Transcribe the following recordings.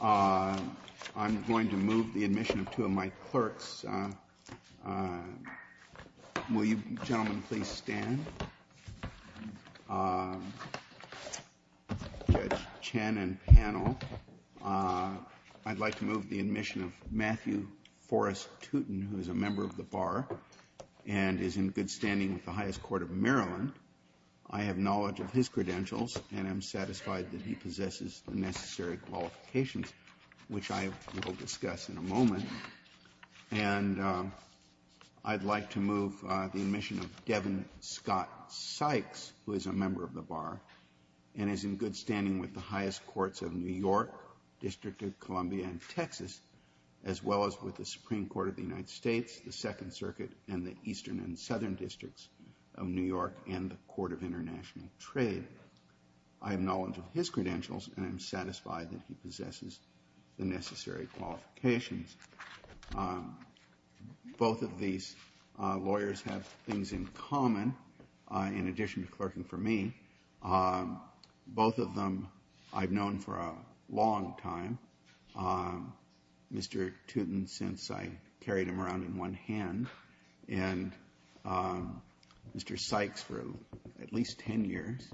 I'm going to move the admission of two of my clerks. Will you gentlemen please stand? Judge Chen and panel, I'd like to move the admission of Matthew Forrest Tootin, who is a member of the Bar and is in good standing with the highest court of Maryland. I have knowledge of his credentials and am satisfied that he possesses the necessary qualifications, which I will discuss in a moment. And I'd like to move the admission of Devin Scott Sykes, who is a member of the Bar and is in good standing with the highest courts of New York, District of Columbia, and Texas, as well as with the Supreme Court of the United States, the Second Circuit, and the Eastern and Southern Districts of New York, and the Court of International Trade. I have knowledge of his credentials and am satisfied that he possesses the necessary qualifications. Both of these lawyers have things in common, in addition to clerking for me. Both of them I've known for a long time. Mr. Tootin, since I carried him around in one hand, and Mr. Sykes for at least 10 years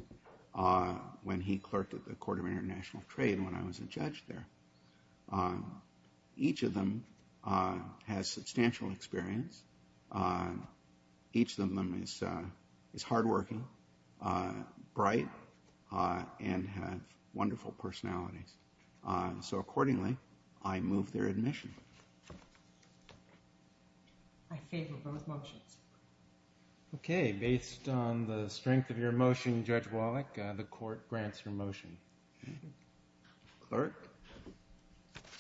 when he clerked at the Court of International Trade when I was a judge there. Each of them has substantial experience. Each of them is hardworking, bright, and has wonderful personalities. So accordingly, I move their admission. I favor both motions. Okay, based on the strength of your motion, Judge Wallach, the court grants your motion. Clerk.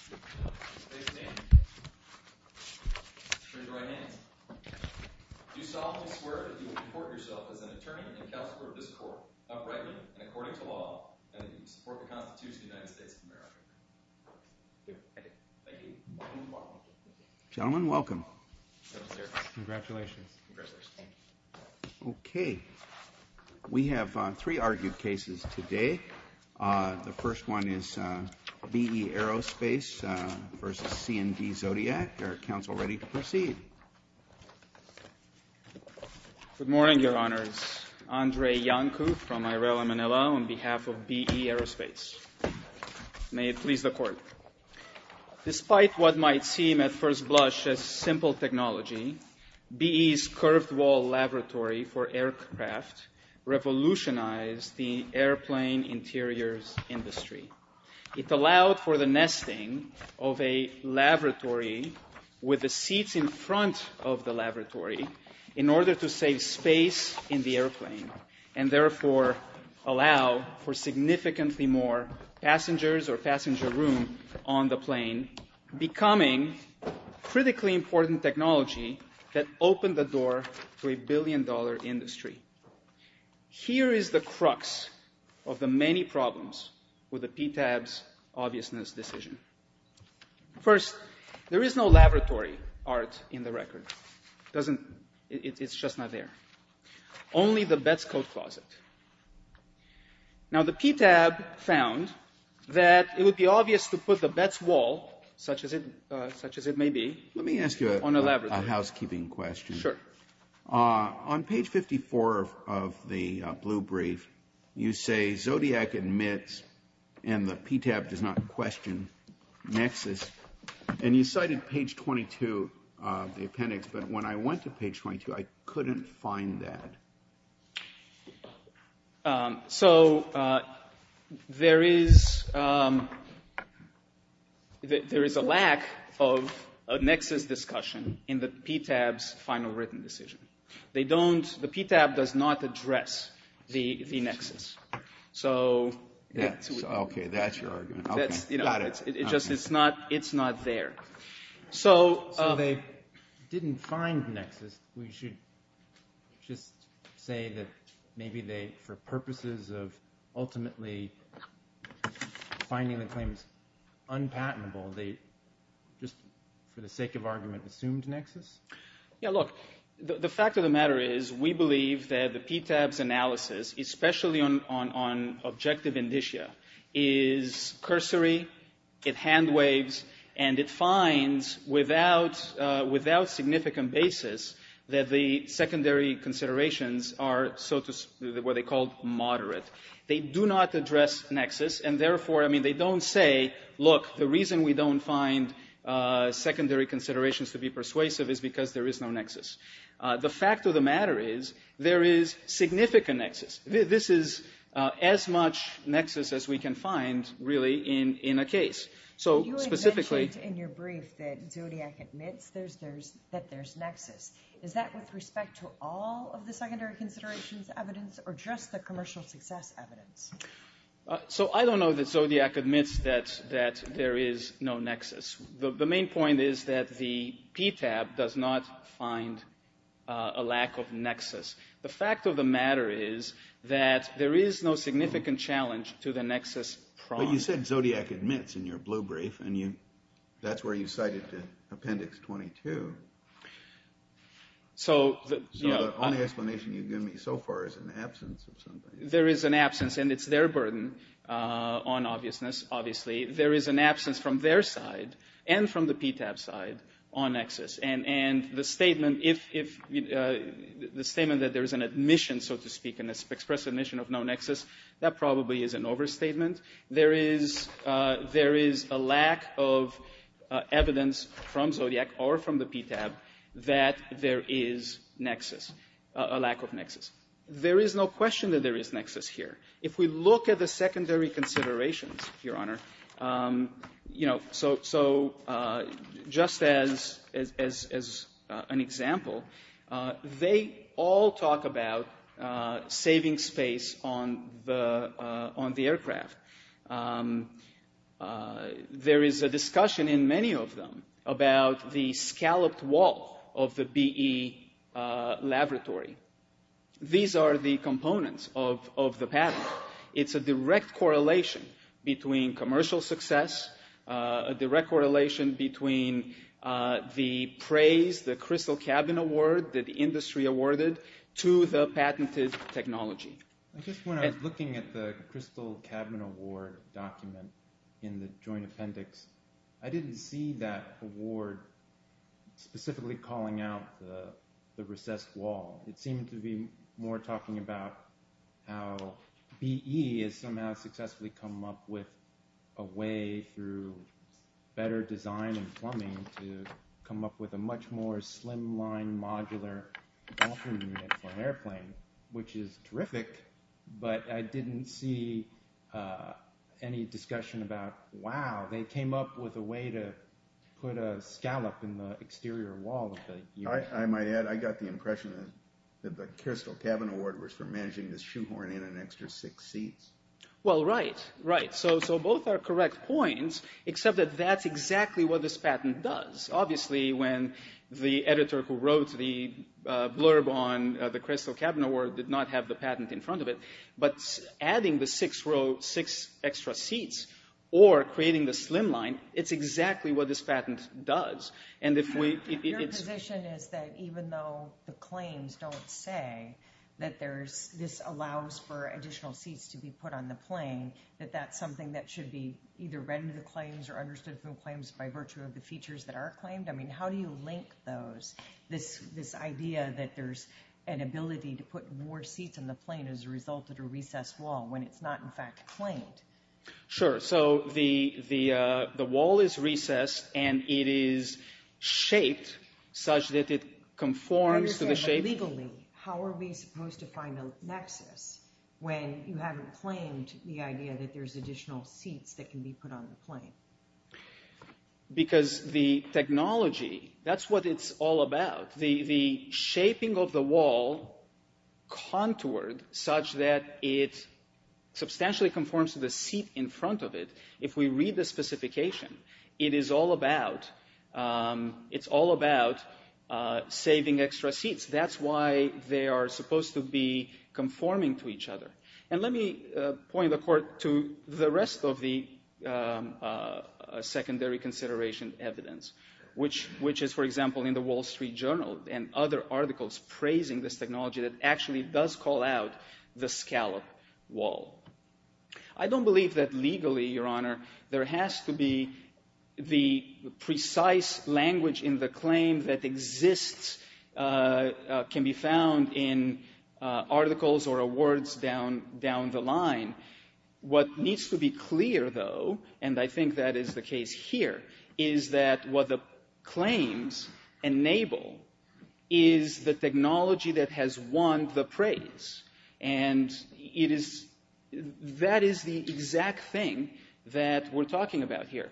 State your name. Raise your right hand. Do solemnly swear that you will report yourself as an attorney and counselor of this court, uprightly and according to law, and that you will support the Constitution of the United States of America. Thank you. Gentlemen, welcome. Congratulations. Okay. We have three argued cases today. The first one is BE Aerospace v. C&D Zodiac. Are counsel ready to proceed? Good morning, Your Honors. Andre Iancu from Irela, Manila, on behalf of BE Aerospace. May it please the court. Despite what might seem at first blush as simple technology, BE's curved wall laboratory for aircraft revolutionized the airplane interiors industry. It allowed for the nesting of a laboratory with the seats in front of the laboratory in order to save space in the airplane and therefore allow for significantly more passengers or passenger room on the plane, becoming critically important technology that opened the door to a billion-dollar industry. Here is the crux of the many problems with the PTAB's obviousness decision. First, there is no laboratory art in the record. It's just not there. Only the Betz coat closet. Now, the PTAB found that it would be obvious to put the Betz wall, such as it may be, on a laboratory. Let me ask you a housekeeping question. Sure. On page 54 of the blue brief, you say Zodiac admits and the PTAB does not question Nexus. And you cited page 22 of the appendix, but when I went to page 22, I couldn't find that. So, there is a lack of Nexus discussion in the PTAB's final written decision. The PTAB does not address the Nexus. So, that's your argument. Got it. It's just not there. So, they didn't find Nexus. We should just say that maybe they, for purposes of ultimately finding the claims unpatentable, they just, for the sake of argument, assumed Nexus? Yeah, look, the fact of the matter is we believe that the PTAB's analysis, especially on objective indicia, is cursory, it hand waves, and it finds without significant basis that the secondary considerations are, so to speak, what they call moderate. They do not address Nexus, and therefore, I mean, they don't say, look, the reason we don't find secondary considerations to be persuasive is because there is no Nexus. The fact of the matter is there is significant Nexus. This is as much Nexus as we can find, really, in a case. So, specifically... You had mentioned in your brief that Zodiac admits that there's Nexus. Is that with respect to all of the secondary considerations evidence or just the commercial success evidence? So, I don't know that Zodiac admits that there is no Nexus. The main point is that the PTAB does not find a lack of Nexus. The fact of the matter is that there is no significant challenge to the Nexus prong. But you said Zodiac admits in your blue brief, and that's where you cited Appendix 22. So, the only explanation you've given me so far is an absence of something. There is an absence, and it's their burden on obviousness, obviously. There is an absence from their side and from the PTAB side on Nexus. And the statement that there is an admission, so to speak, an express admission of no Nexus, that probably is an overstatement. There is a lack of evidence from Zodiac or from the PTAB that there is Nexus, a lack of Nexus. There is no question that there is Nexus here. If we look at the secondary considerations, Your Honor, you know, so just as an example, they all talk about saving space on the aircraft. There is a discussion in many of them about the scalloped wall of the BE laboratory. These are the components of the patent. It's a direct correlation between commercial success, a direct correlation between the praise, the Crystal Cabin Award that the industry awarded to the patented technology. Just when I was looking at the Crystal Cabin Award document in the joint appendix, I didn't see that award specifically calling out the recessed wall. It seemed to be more talking about how BE has somehow successfully come up with a way through better design and plumbing to come up with a much more slimline, modular, dolphin unit for an airplane, which is terrific. But I didn't see any discussion about, wow, they came up with a way to put a scallop in the exterior wall. I might add, I got the impression that the Crystal Cabin Award was for managing the shoehorn in an extra six seats. Well, right, right. So both are correct points, except that that's exactly what this patent does. Obviously, when the editor who wrote the blurb on the Crystal Cabin Award did not have the patent in front of it, but adding the six extra seats or creating the slimline, it's exactly what this patent does. Your position is that even though the claims don't say that this allows for additional seats to be put on the plane, that that's something that should be either read into the claims or understood from claims by virtue of the features that are claimed? I mean, how do you link this idea that there's an ability to put more seats on the plane as a result of a recessed wall when it's not, in fact, claimed? Sure. So the wall is recessed and it is shaped such that it conforms to the shape. Legally, how are we supposed to find a nexus when you haven't claimed the idea that there's additional seats that can be put on the plane? Because the technology, that's what it's all about. The shaping of the wall contoured such that it substantially conforms to the seat in front of it. If we read the specification, it is all about saving extra seats. That's why they are supposed to be conforming to each other. And let me point the court to the rest of the secondary consideration evidence, which is, for example, in the Wall Street Journal and other articles praising this technology that actually does call out the scallop wall. I don't believe that legally, Your Honor, there has to be the precise language in the claim that exists, can be found in articles or awards down the line. What needs to be clear, though, and I think that is the case here, is that what the claims enable is the technology that has won the praise. And it is – that is the exact thing that we're talking about here.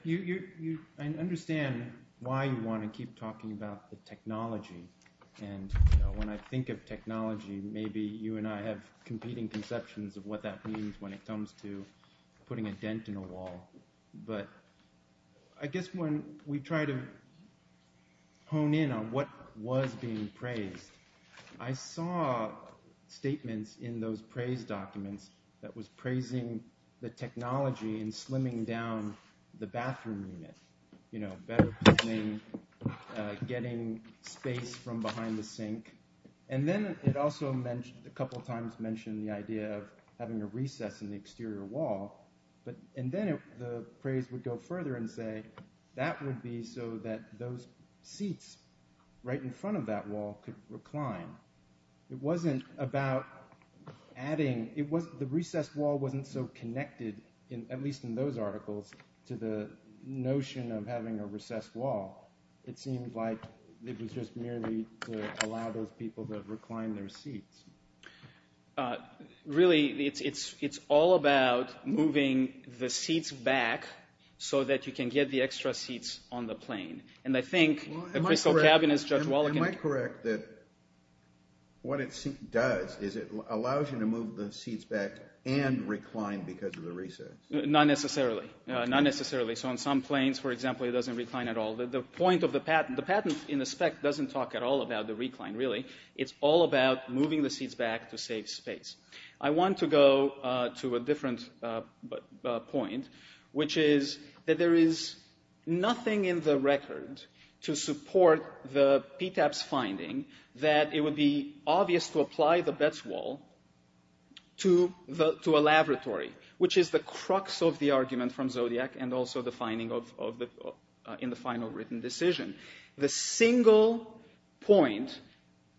I understand why you want to keep talking about the technology. And when I think of technology, maybe you and I have competing conceptions of what that means when it comes to putting a dent in a wall. But I guess when we try to hone in on what was being praised, I saw statements in those praise documents that was praising the technology and slimming down the bathroom unit. You know, better planning, getting space from behind the sink. And then it also a couple times mentioned the idea of having a recess in the exterior wall. And then the praise would go further and say that would be so that those seats right in front of that wall could recline. It wasn't about adding – the recessed wall wasn't so connected, at least in those articles, to the notion of having a recessed wall. It seemed like it was just merely to allow those people to recline their seats. Really, it's all about moving the seats back so that you can get the extra seats on the plane. Am I correct that what it does is it allows you to move the seats back and recline because of the recess? Not necessarily. Not necessarily. So on some planes, for example, it doesn't recline at all. The point of the patent – the patent in the spec doesn't talk at all about the recline, really. It's all about moving the seats back to save space. I want to go to a different point, which is that there is nothing in the record to support the PTAP's finding that it would be obvious to apply the Betz wall to a laboratory, which is the crux of the argument from Zodiac and also the finding in the final written decision. The single point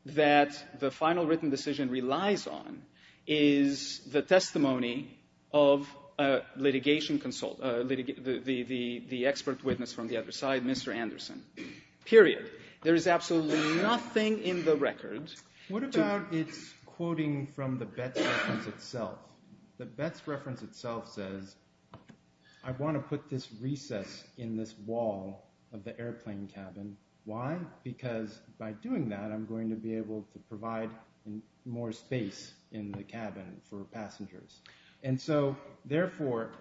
that the final written decision relies on is the testimony of a litigation consult, the expert witness from the other side, Mr. Anderson, period. There is absolutely nothing in the record to – The Betz reference itself says, I want to put this recess in this wall of the airplane cabin. Why? Because by doing that, I'm going to be able to provide more space in the cabin for passengers. And so therefore,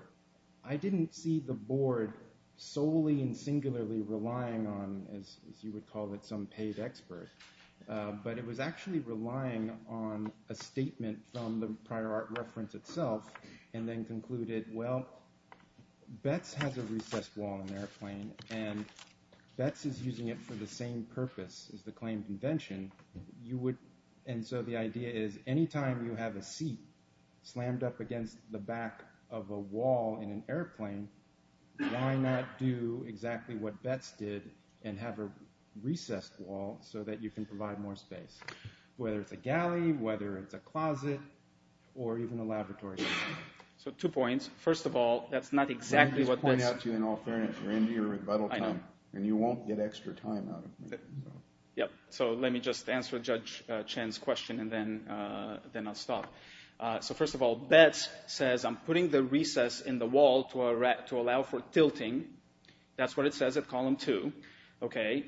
I didn't see the board solely and singularly relying on, as you would call it, some paid expert. But it was actually relying on a statement from the prior art reference itself and then concluded, well, Betz has a recessed wall in the airplane, and Betz is using it for the same purpose as the claim convention. And so the idea is, any time you have a seat slammed up against the back of a wall in an airplane, why not do exactly what Betz did and have a recessed wall so that you can provide more space, whether it's a galley, whether it's a closet, or even a laboratory? So two points. First of all, that's not exactly what Betz – Let me just point out to you in all fairness, you're into your rebuttal time, and you won't get extra time out of me. So let me just answer Judge Chen's question, and then I'll stop. So first of all, Betz says, I'm putting the recess in the wall to allow for tilting. That's what it says at column two.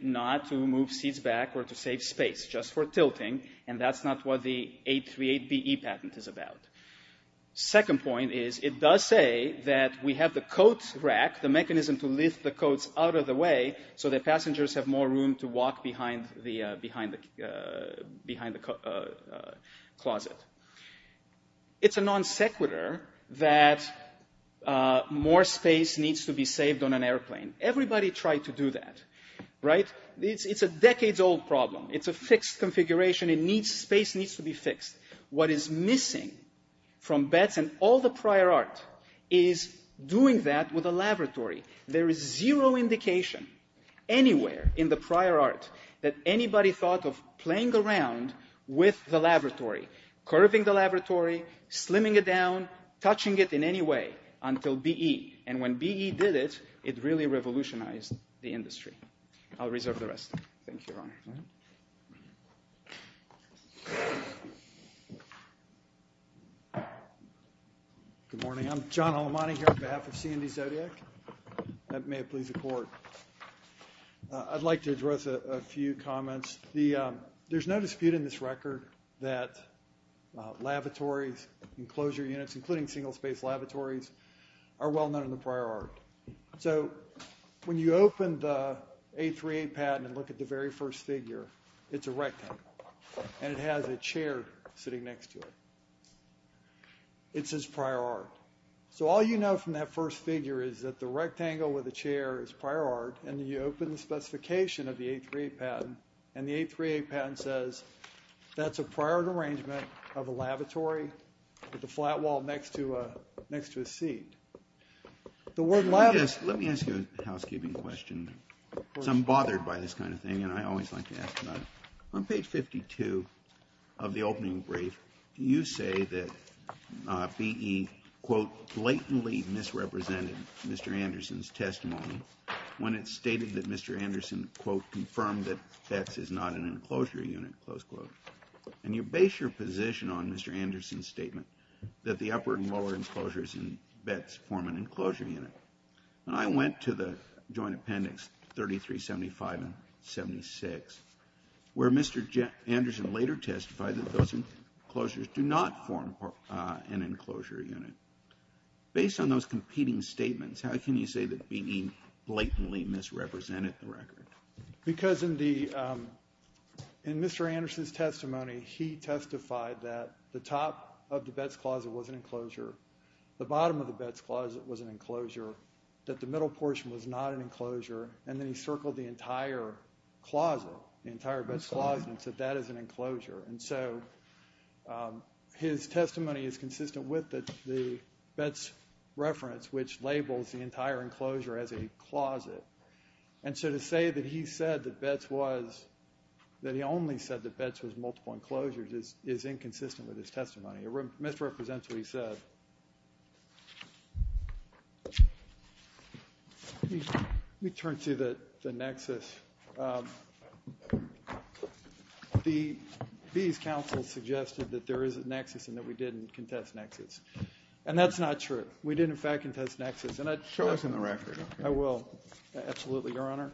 Not to move seats back or to save space, just for tilting, and that's not what the 838BE patent is about. Second point is, it does say that we have the coat rack, the mechanism to lift the coats out of the way so that passengers have more room to walk behind the closet. It's a non sequitur that more space needs to be saved on an airplane. Everybody tried to do that, right? It's a decades-old problem. It's a fixed configuration. Space needs to be fixed. What is missing from Betz and all the prior art is doing that with a laboratory. There is zero indication anywhere in the prior art that anybody thought of playing around with the laboratory, curving the laboratory, slimming it down, touching it in any way, until BE. And when BE did it, it really revolutionized the industry. I'll reserve the rest. Thank you, Your Honor. Good morning. I'm John Halamani here on behalf of C&D Zodiac. May it please the Court. I'd like to address a few comments. There's no dispute in this record that lavatories, enclosure units, including single-space lavatories, are well known in the prior art. So when you open the 838 patent and look at the very first figure, it's a rectangle. And it has a chair sitting next to it. It says prior art. So all you know from that first figure is that the rectangle with the chair is prior art. And you open the specification of the 838 patent, and the 838 patent says that's a prior arrangement of a lavatory with a flat wall next to a seat. Let me ask you a housekeeping question. Because I'm bothered by this kind of thing, and I always like to ask another. On page 52 of the opening brief, you say that BE, quote, blatantly misrepresented Mr. Anderson's testimony when it stated that Mr. Anderson, quote, confirmed that BETS is not an enclosure unit, close quote. And you base your position on Mr. Anderson's statement that the upper and lower enclosures in BETS form an enclosure unit. And I went to the joint appendix 3375 and 76, where Mr. Anderson later testified that those enclosures do not form an enclosure unit. Based on those competing statements, how can you say that BE blatantly misrepresented the record? Because in Mr. Anderson's testimony, he testified that the top of the BETS closet was an enclosure, the bottom of the BETS closet was an enclosure, that the middle portion was not an enclosure, and then he circled the entire closet, the entire BETS closet, and said that is an enclosure. And so his testimony is consistent with the BETS reference, which labels the entire enclosure as a closet. And so to say that he said that BETS was, that he only said that BETS was multiple enclosures is inconsistent with his testimony. It misrepresents what he said. Let me turn to the nexus. BE's counsel suggested that there is a nexus and that we didn't contest nexus. And that's not true. We did, in fact, contest nexus. Show us in the record. I will. Absolutely, Your Honor.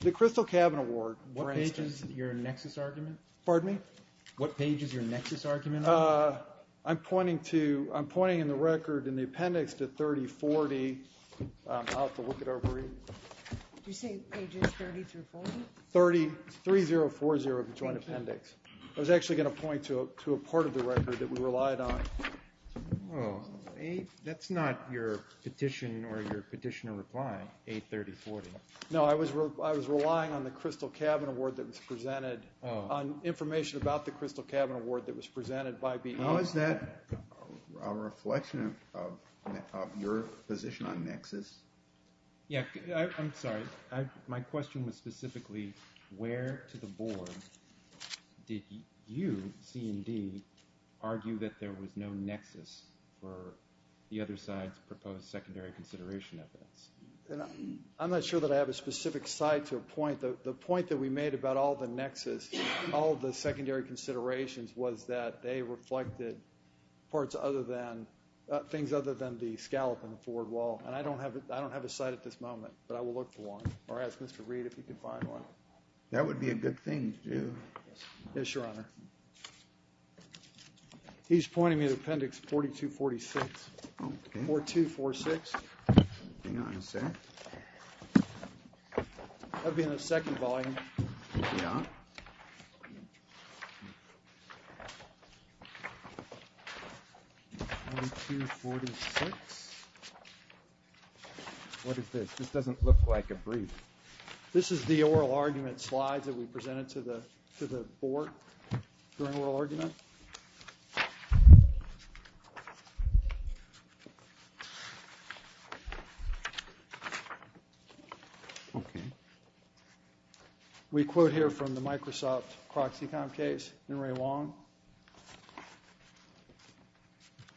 The Crystal Cabin Award, for instance. What page is your nexus argument? Pardon me? What page is your nexus argument? I'm pointing to, I'm pointing in the record in the appendix to 3040. I'll have to look it over. Did you say pages 30 through 40? 30, 3040 of the joint appendix. I was actually going to point to a part of the record that we relied on. That's not your petition or your petitioner reply, 83040. No, I was relying on the Crystal Cabin Award that was presented, on information about the Crystal Cabin Award that was presented by BE. How is that a reflection of your position on nexus? Yeah, I'm sorry. My question was specifically where to the board did you, C&D, argue that there was no nexus for the other side's proposed secondary consideration evidence? I'm not sure that I have a specific side to a point. The point that we made about all the nexus, all the secondary considerations was that they reflected parts other than, things other than the scallop and the forward wall. And I don't have a side at this moment, but I will look for one or ask Mr. Reed if he could find one. That would be a good thing to do. Yes, Your Honor. He's pointing me to appendix 4246. Okay. 4246. Hang on a sec. That would be in the second volume. Yeah. 4246. What is this? This doesn't look like a brief. This is the oral argument slide that we presented to the board during oral argument. Okay. We quote here from the Microsoft Proxycom case in Ray Wong.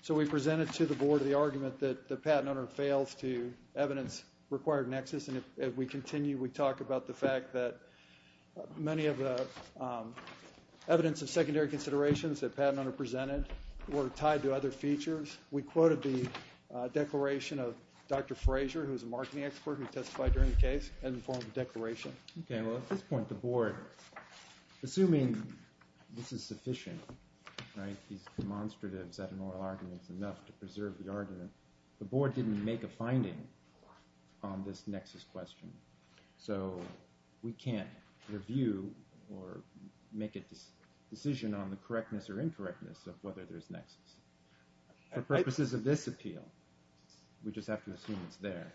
So we presented to the board the argument that the patent owner fails to evidence required nexus. And if we continue, we talk about the fact that many of the evidence of secondary considerations that the patent owner presented were tied to other features. We quoted the declaration of Dr. Frazier, who is a marketing expert who testified during the case in the form of a declaration. Okay. Well, at this point, the board, assuming this is sufficient, right, he's demonstrative that an oral argument is enough to preserve the argument, the board didn't make a finding on this nexus question. So we can't review or make a decision on the correctness or incorrectness of whether there's nexus. For purposes of this appeal, we just have to assume it's there.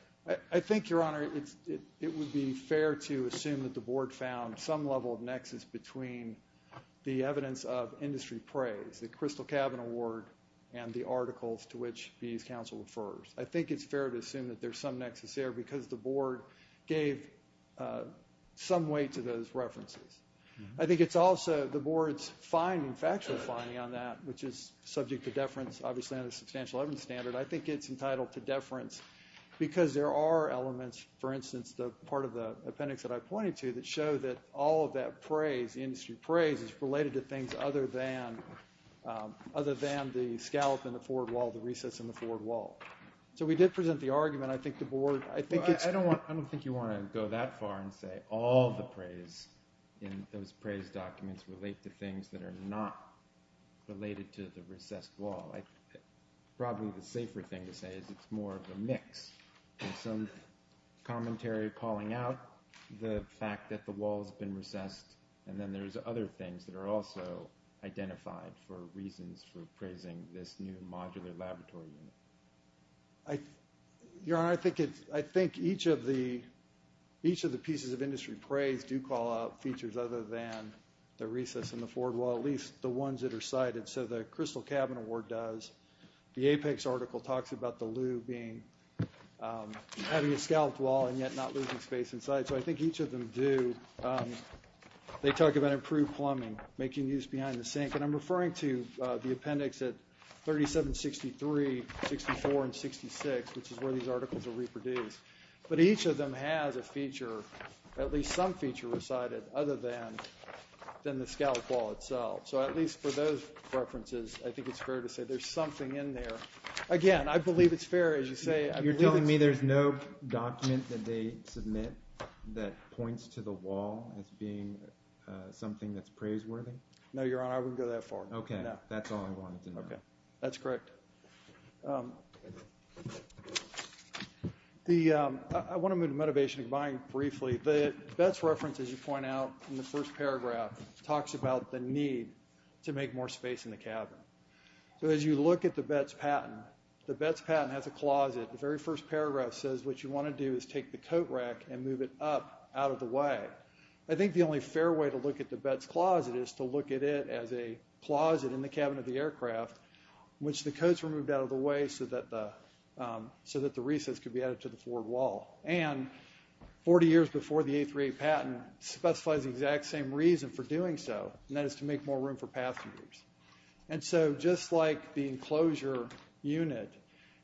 I think, Your Honor, it would be fair to assume that the board found some level of nexus between the evidence of industry praise, the Crystal Cabin Award, and the articles to which these counsel refers. I think it's fair to assume that there's some nexus there because the board gave some weight to those references. I think it's also the board's finding, factual finding on that, which is subject to deference, obviously, on the substantial evidence standard. I think it's entitled to deference because there are elements, for instance, the part of the appendix that I pointed to that show that all of that praise, industry praise, is related to things other than the scallop in the forward wall, the recess in the forward wall. So we did present the argument. I don't think you want to go that far and say all the praise in those praise documents relate to things that are not related to the recessed wall. Probably the safer thing to say is it's more of a mix. There's some commentary calling out the fact that the wall has been recessed, and then there's other things that are also identified for reasons for praising this new modular laboratory unit. Your Honor, I think each of the pieces of industry praise do call out features other than the recess in the forward wall, at least the ones that are cited. So the Crystal Cabin Award does. The Apex article talks about the loo having a scalloped wall and yet not losing space inside. So I think each of them do. They talk about improved plumbing, making use behind the sink. And I'm referring to the appendix at 3763, 64, and 66, which is where these articles are reproduced. But each of them has a feature, at least some feature, recited other than the scalloped wall itself. So at least for those references, I think it's fair to say there's something in there. Again, I believe it's fair, as you say. You're telling me there's no document that they submit that points to the wall as being something that's praiseworthy? No, Your Honor, I wouldn't go that far. Okay, that's all I wanted to know. That's correct. I want to move to motivation and buying briefly. The Betts reference, as you point out in the first paragraph, talks about the need to make more space in the cabin. So as you look at the Betts patent, the Betts patent has a closet. The very first paragraph says what you want to do is take the coat rack and move it up out of the way. I think the only fair way to look at the Betts closet is to look at it as a closet in the cabin of the aircraft, which the coats were moved out of the way so that the recess could be added to the forward wall. And 40 years before the 838 patent specifies the exact same reason for doing so, and that is to make more room for passengers. And so just like the enclosure unit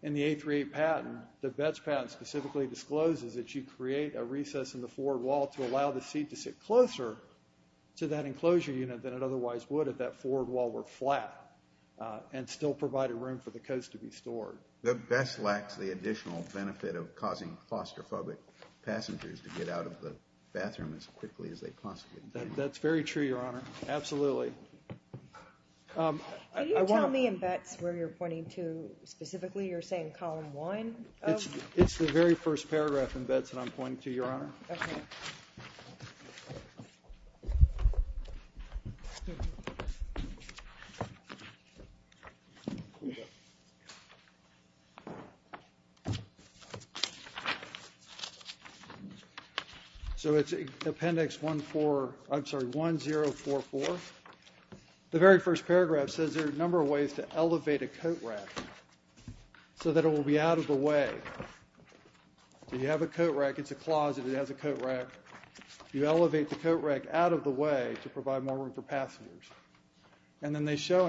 in the 838 patent, the Betts patent specifically discloses that you create a recess in the forward wall to allow the seat to sit closer to that enclosure unit than it otherwise would if that forward wall were flat and still provided room for the coats to be stored. The Betts lacks the additional benefit of causing claustrophobic passengers to get out of the bathroom as quickly as they possibly can. That's very true, Your Honor. Absolutely. Can you tell me in Betts where you're pointing to specifically? You're saying column one? It's the very first paragraph in Betts that I'm pointing to, Your Honor. OK. So it's appendix one, four, I'm sorry, one, zero, four, four. The very first paragraph says there are a number of ways to elevate a coat rack so that it will be out of the way. You have a coat rack, it's a closet, it has a coat rack. You elevate the coat rack out of the way to provide more room for passengers. And then it shows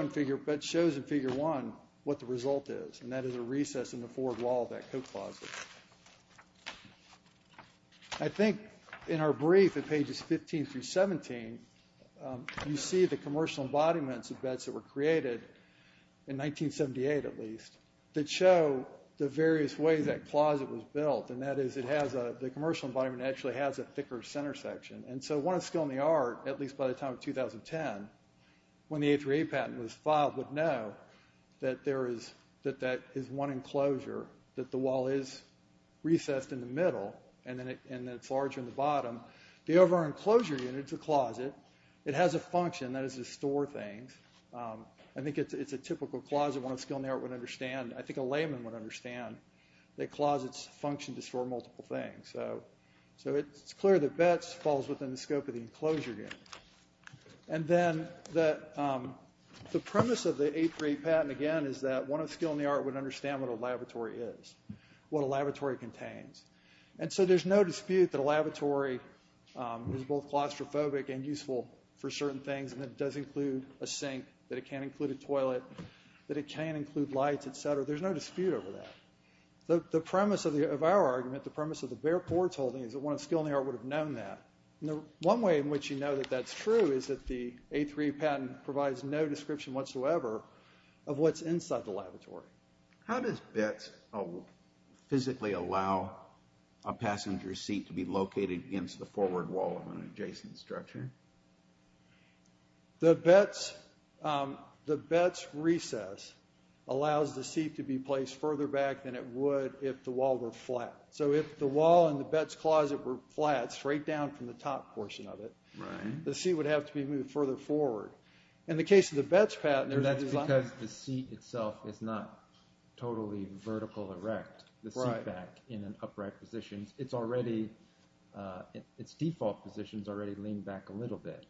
in figure one what the result is, and that is a recess in the forward wall of that coat closet. I think in our brief at pages 15 through 17, you see the commercial embodiments of Betts that were created in 1978 at least that show the various ways that closet was built, and that is the commercial embodiment actually has a thicker center section. And so one of the skill in the art, at least by the time of 2010, when the A3A patent was filed would know that that is one enclosure, that the wall is recessed in the middle and it's larger in the bottom. The overall enclosure unit is a closet. It has a function, that is to store things. I think it's a typical closet one of the skill in the art would understand. I think a layman would understand that closets function to store multiple things. So it's clear that Betts falls within the scope of the enclosure unit. And then the premise of the A3A patent, again, is that one of the skill in the art would understand what a laboratory is, what a laboratory contains. And so there's no dispute that a laboratory is both claustrophobic and useful for certain things, and it does include a sink, that it can't include a toilet, that it can't include lights, et cetera. There's no dispute over that. The premise of our argument, the premise of the bare boards holding, is that one of the skill in the art would have known that. One way in which you know that that's true is that the A3A patent provides no description whatsoever of what's inside the laboratory. How does Betts physically allow a passenger seat to be located against the forward wall of an adjacent structure? The Betts recess allows the seat to be placed further back than it would if the wall were flat. So if the wall in the Betts closet were flat, straight down from the top portion of it, the seat would have to be moved further forward. In the case of the Betts patent, there's a design. That's because the seat itself is not totally vertical erect, the seat back in an upright position. It's default position is already leaned back a little bit.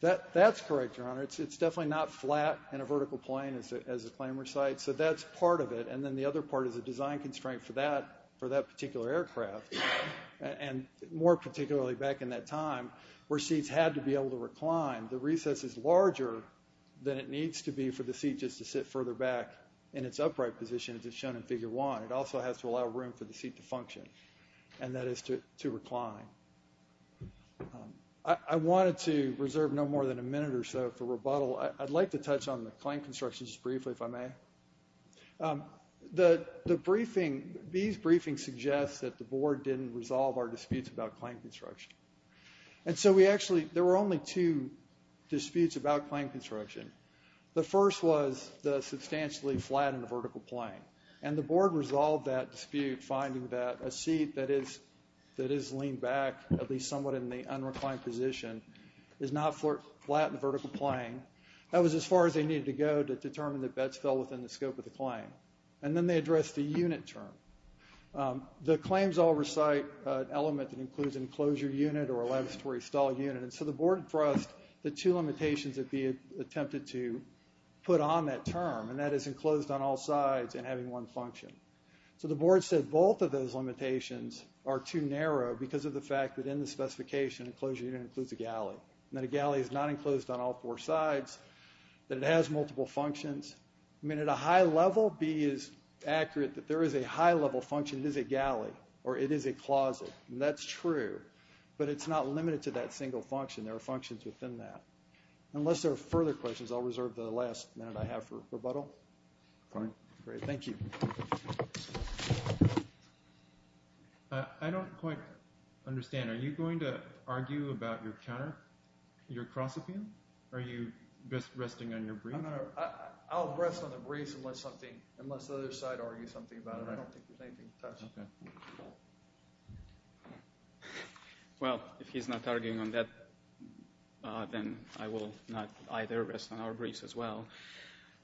That's correct, Your Honor. It's definitely not flat in a vertical plane as the claim recites. So that's part of it. And then the other part is a design constraint for that particular aircraft, and more particularly back in that time where seats had to be able to recline. The recess is larger than it needs to be for the seat just to sit further back in its upright position as is shown in Figure 1. It also has to allow room for the seat to function, and that is to recline. I wanted to reserve no more than a minute or so for rebuttal. I'd like to touch on the claim construction just briefly, if I may. The briefing, these briefings suggest that the board didn't resolve our disputes about claim construction. And so we actually, there were only two disputes about claim construction. The first was the substantially flat in the vertical plane, and the board resolved that dispute finding that a seat that is leaned back, at least somewhat in the unreclined position, is not flat in the vertical plane. That was as far as they needed to go to determine that beds fell within the scope of the claim. And then they addressed the unit term. The claims all recite an element that includes an enclosure unit or a lavatory stall unit, and so the board thrust the two limitations that we attempted to put on that term, and that is enclosed on all sides and having one function. So the board said both of those limitations are too narrow because of the fact that in the specification, enclosure unit includes a galley, and that a galley is not enclosed on all four sides, that it has multiple functions. I mean, at a high level, be as accurate that there is a high-level function, it is a galley or it is a closet, and that's true, but it's not limited to that single function. There are functions within that. Unless there are further questions, I'll reserve the last minute I have for rebuttal. Thank you. I don't quite understand. Are you going to argue about your counter, your cross-appeal, or are you just resting on your brief? I'll rest on the brief unless the other side argues something about it. I don't think there's anything to touch on. Well, if he's not arguing on that, then I will not either rest on our briefs as well.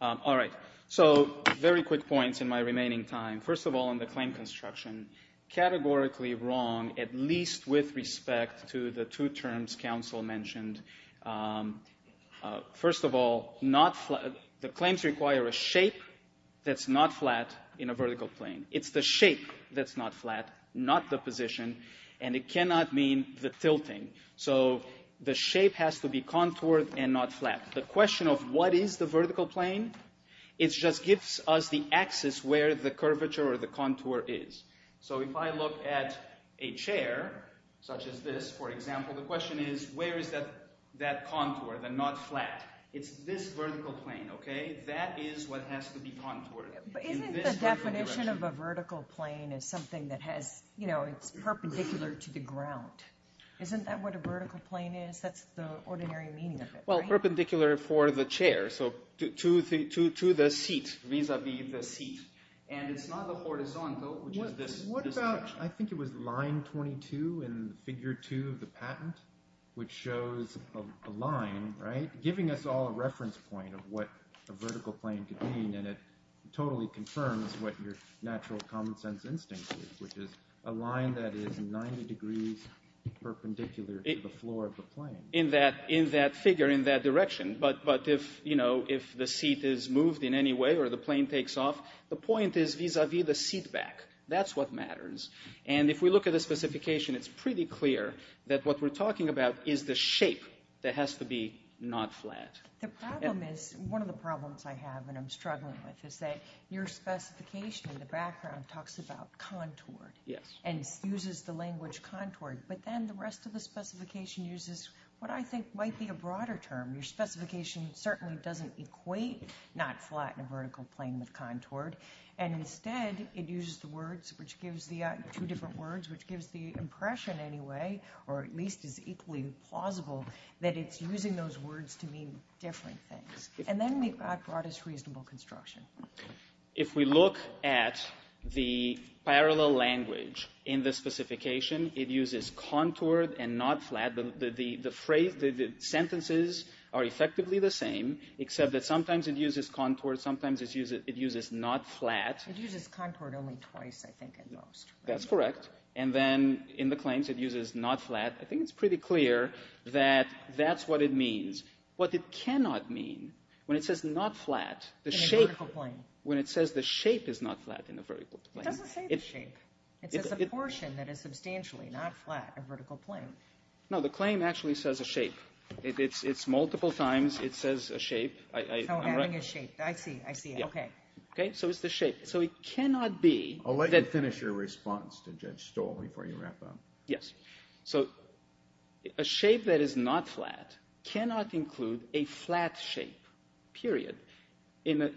All right, so very quick points in my remaining time. First of all, on the claim construction, categorically wrong at least with respect to the two terms counsel mentioned. First of all, the claims require a shape that's not flat in a vertical plane. It's the shape that's not flat, not the position, and it cannot mean the tilting. So the shape has to be contoured and not flat. The question of what is the vertical plane, it just gives us the axis where the curvature or the contour is. So if I look at a chair such as this, for example, the question is where is that contour, the not flat? It's this vertical plane, okay? That is what has to be contoured. But isn't the definition of a vertical plane is something that has, you know, it's perpendicular to the ground. Isn't that what a vertical plane is? That's the ordinary meaning of it, right? It's perpendicular for the chair, so to the seat, vis-a-vis the seat. And it's not the horizontal, which is this section. What about – I think it was line 22 in figure 2 of the patent, which shows a line, right, giving us all a reference point of what a vertical plane could mean, and it totally confirms what your natural common sense instinct is, which is a line that is 90 degrees perpendicular to the floor of the plane. In that figure, in that direction. But if, you know, if the seat is moved in any way or the plane takes off, the point is vis-a-vis the seat back. That's what matters. And if we look at the specification, it's pretty clear that what we're talking about is the shape that has to be not flat. The problem is – one of the problems I have and I'm struggling with is that your specification in the background talks about contour. Yes. And uses the language contoured. But then the rest of the specification uses what I think might be a broader term. Your specification certainly doesn't equate not flat in a vertical plane with contoured. And instead, it uses the words, which gives the – two different words, which gives the impression anyway, or at least is equally plausible, that it's using those words to mean different things. And then we've got broadest reasonable construction. If we look at the parallel language in the specification, it uses contoured and not flat. The phrase – the sentences are effectively the same, except that sometimes it uses contoured, sometimes it uses not flat. It uses contoured only twice, I think, at most. That's correct. And then in the claims, it uses not flat. I think it's pretty clear that that's what it means. What it cannot mean, when it says not flat, the shape – In a vertical plane. It doesn't say the shape. It says a portion that is substantially not flat, a vertical plane. No, the claim actually says a shape. It's multiple times. It says a shape. Oh, adding a shape. I see, I see. Okay. Okay, so it's the shape. So it cannot be that – I'll let you finish your response to Judge Stoll before you wrap up. Yes. So a shape that is not flat cannot include a flat shape, period, and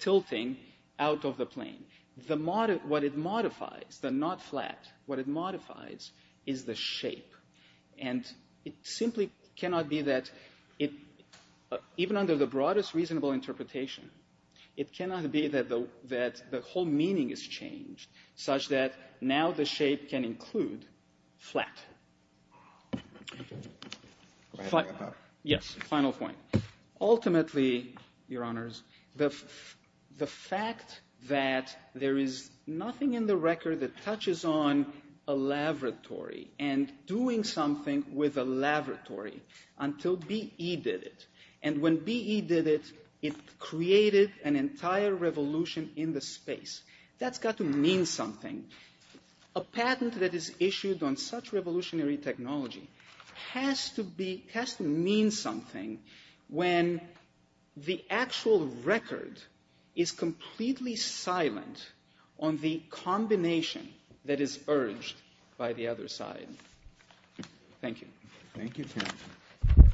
tilting out of the plane. What it modifies, the not flat, what it modifies is the shape, and it simply cannot be that – even under the broadest reasonable interpretation, it cannot be that the whole meaning is changed, such that now the shape can include flat. Yes, final point. Ultimately, Your Honors, the fact that there is nothing in the record that touches on a laboratory and doing something with a laboratory until BE did it. And when BE did it, it created an entire revolution in the space. That's got to mean something. A patent that is issued on such revolutionary technology has to be – has to mean something when the actual record is completely silent on the combination that is urged by the other side. Thank you. Thank you.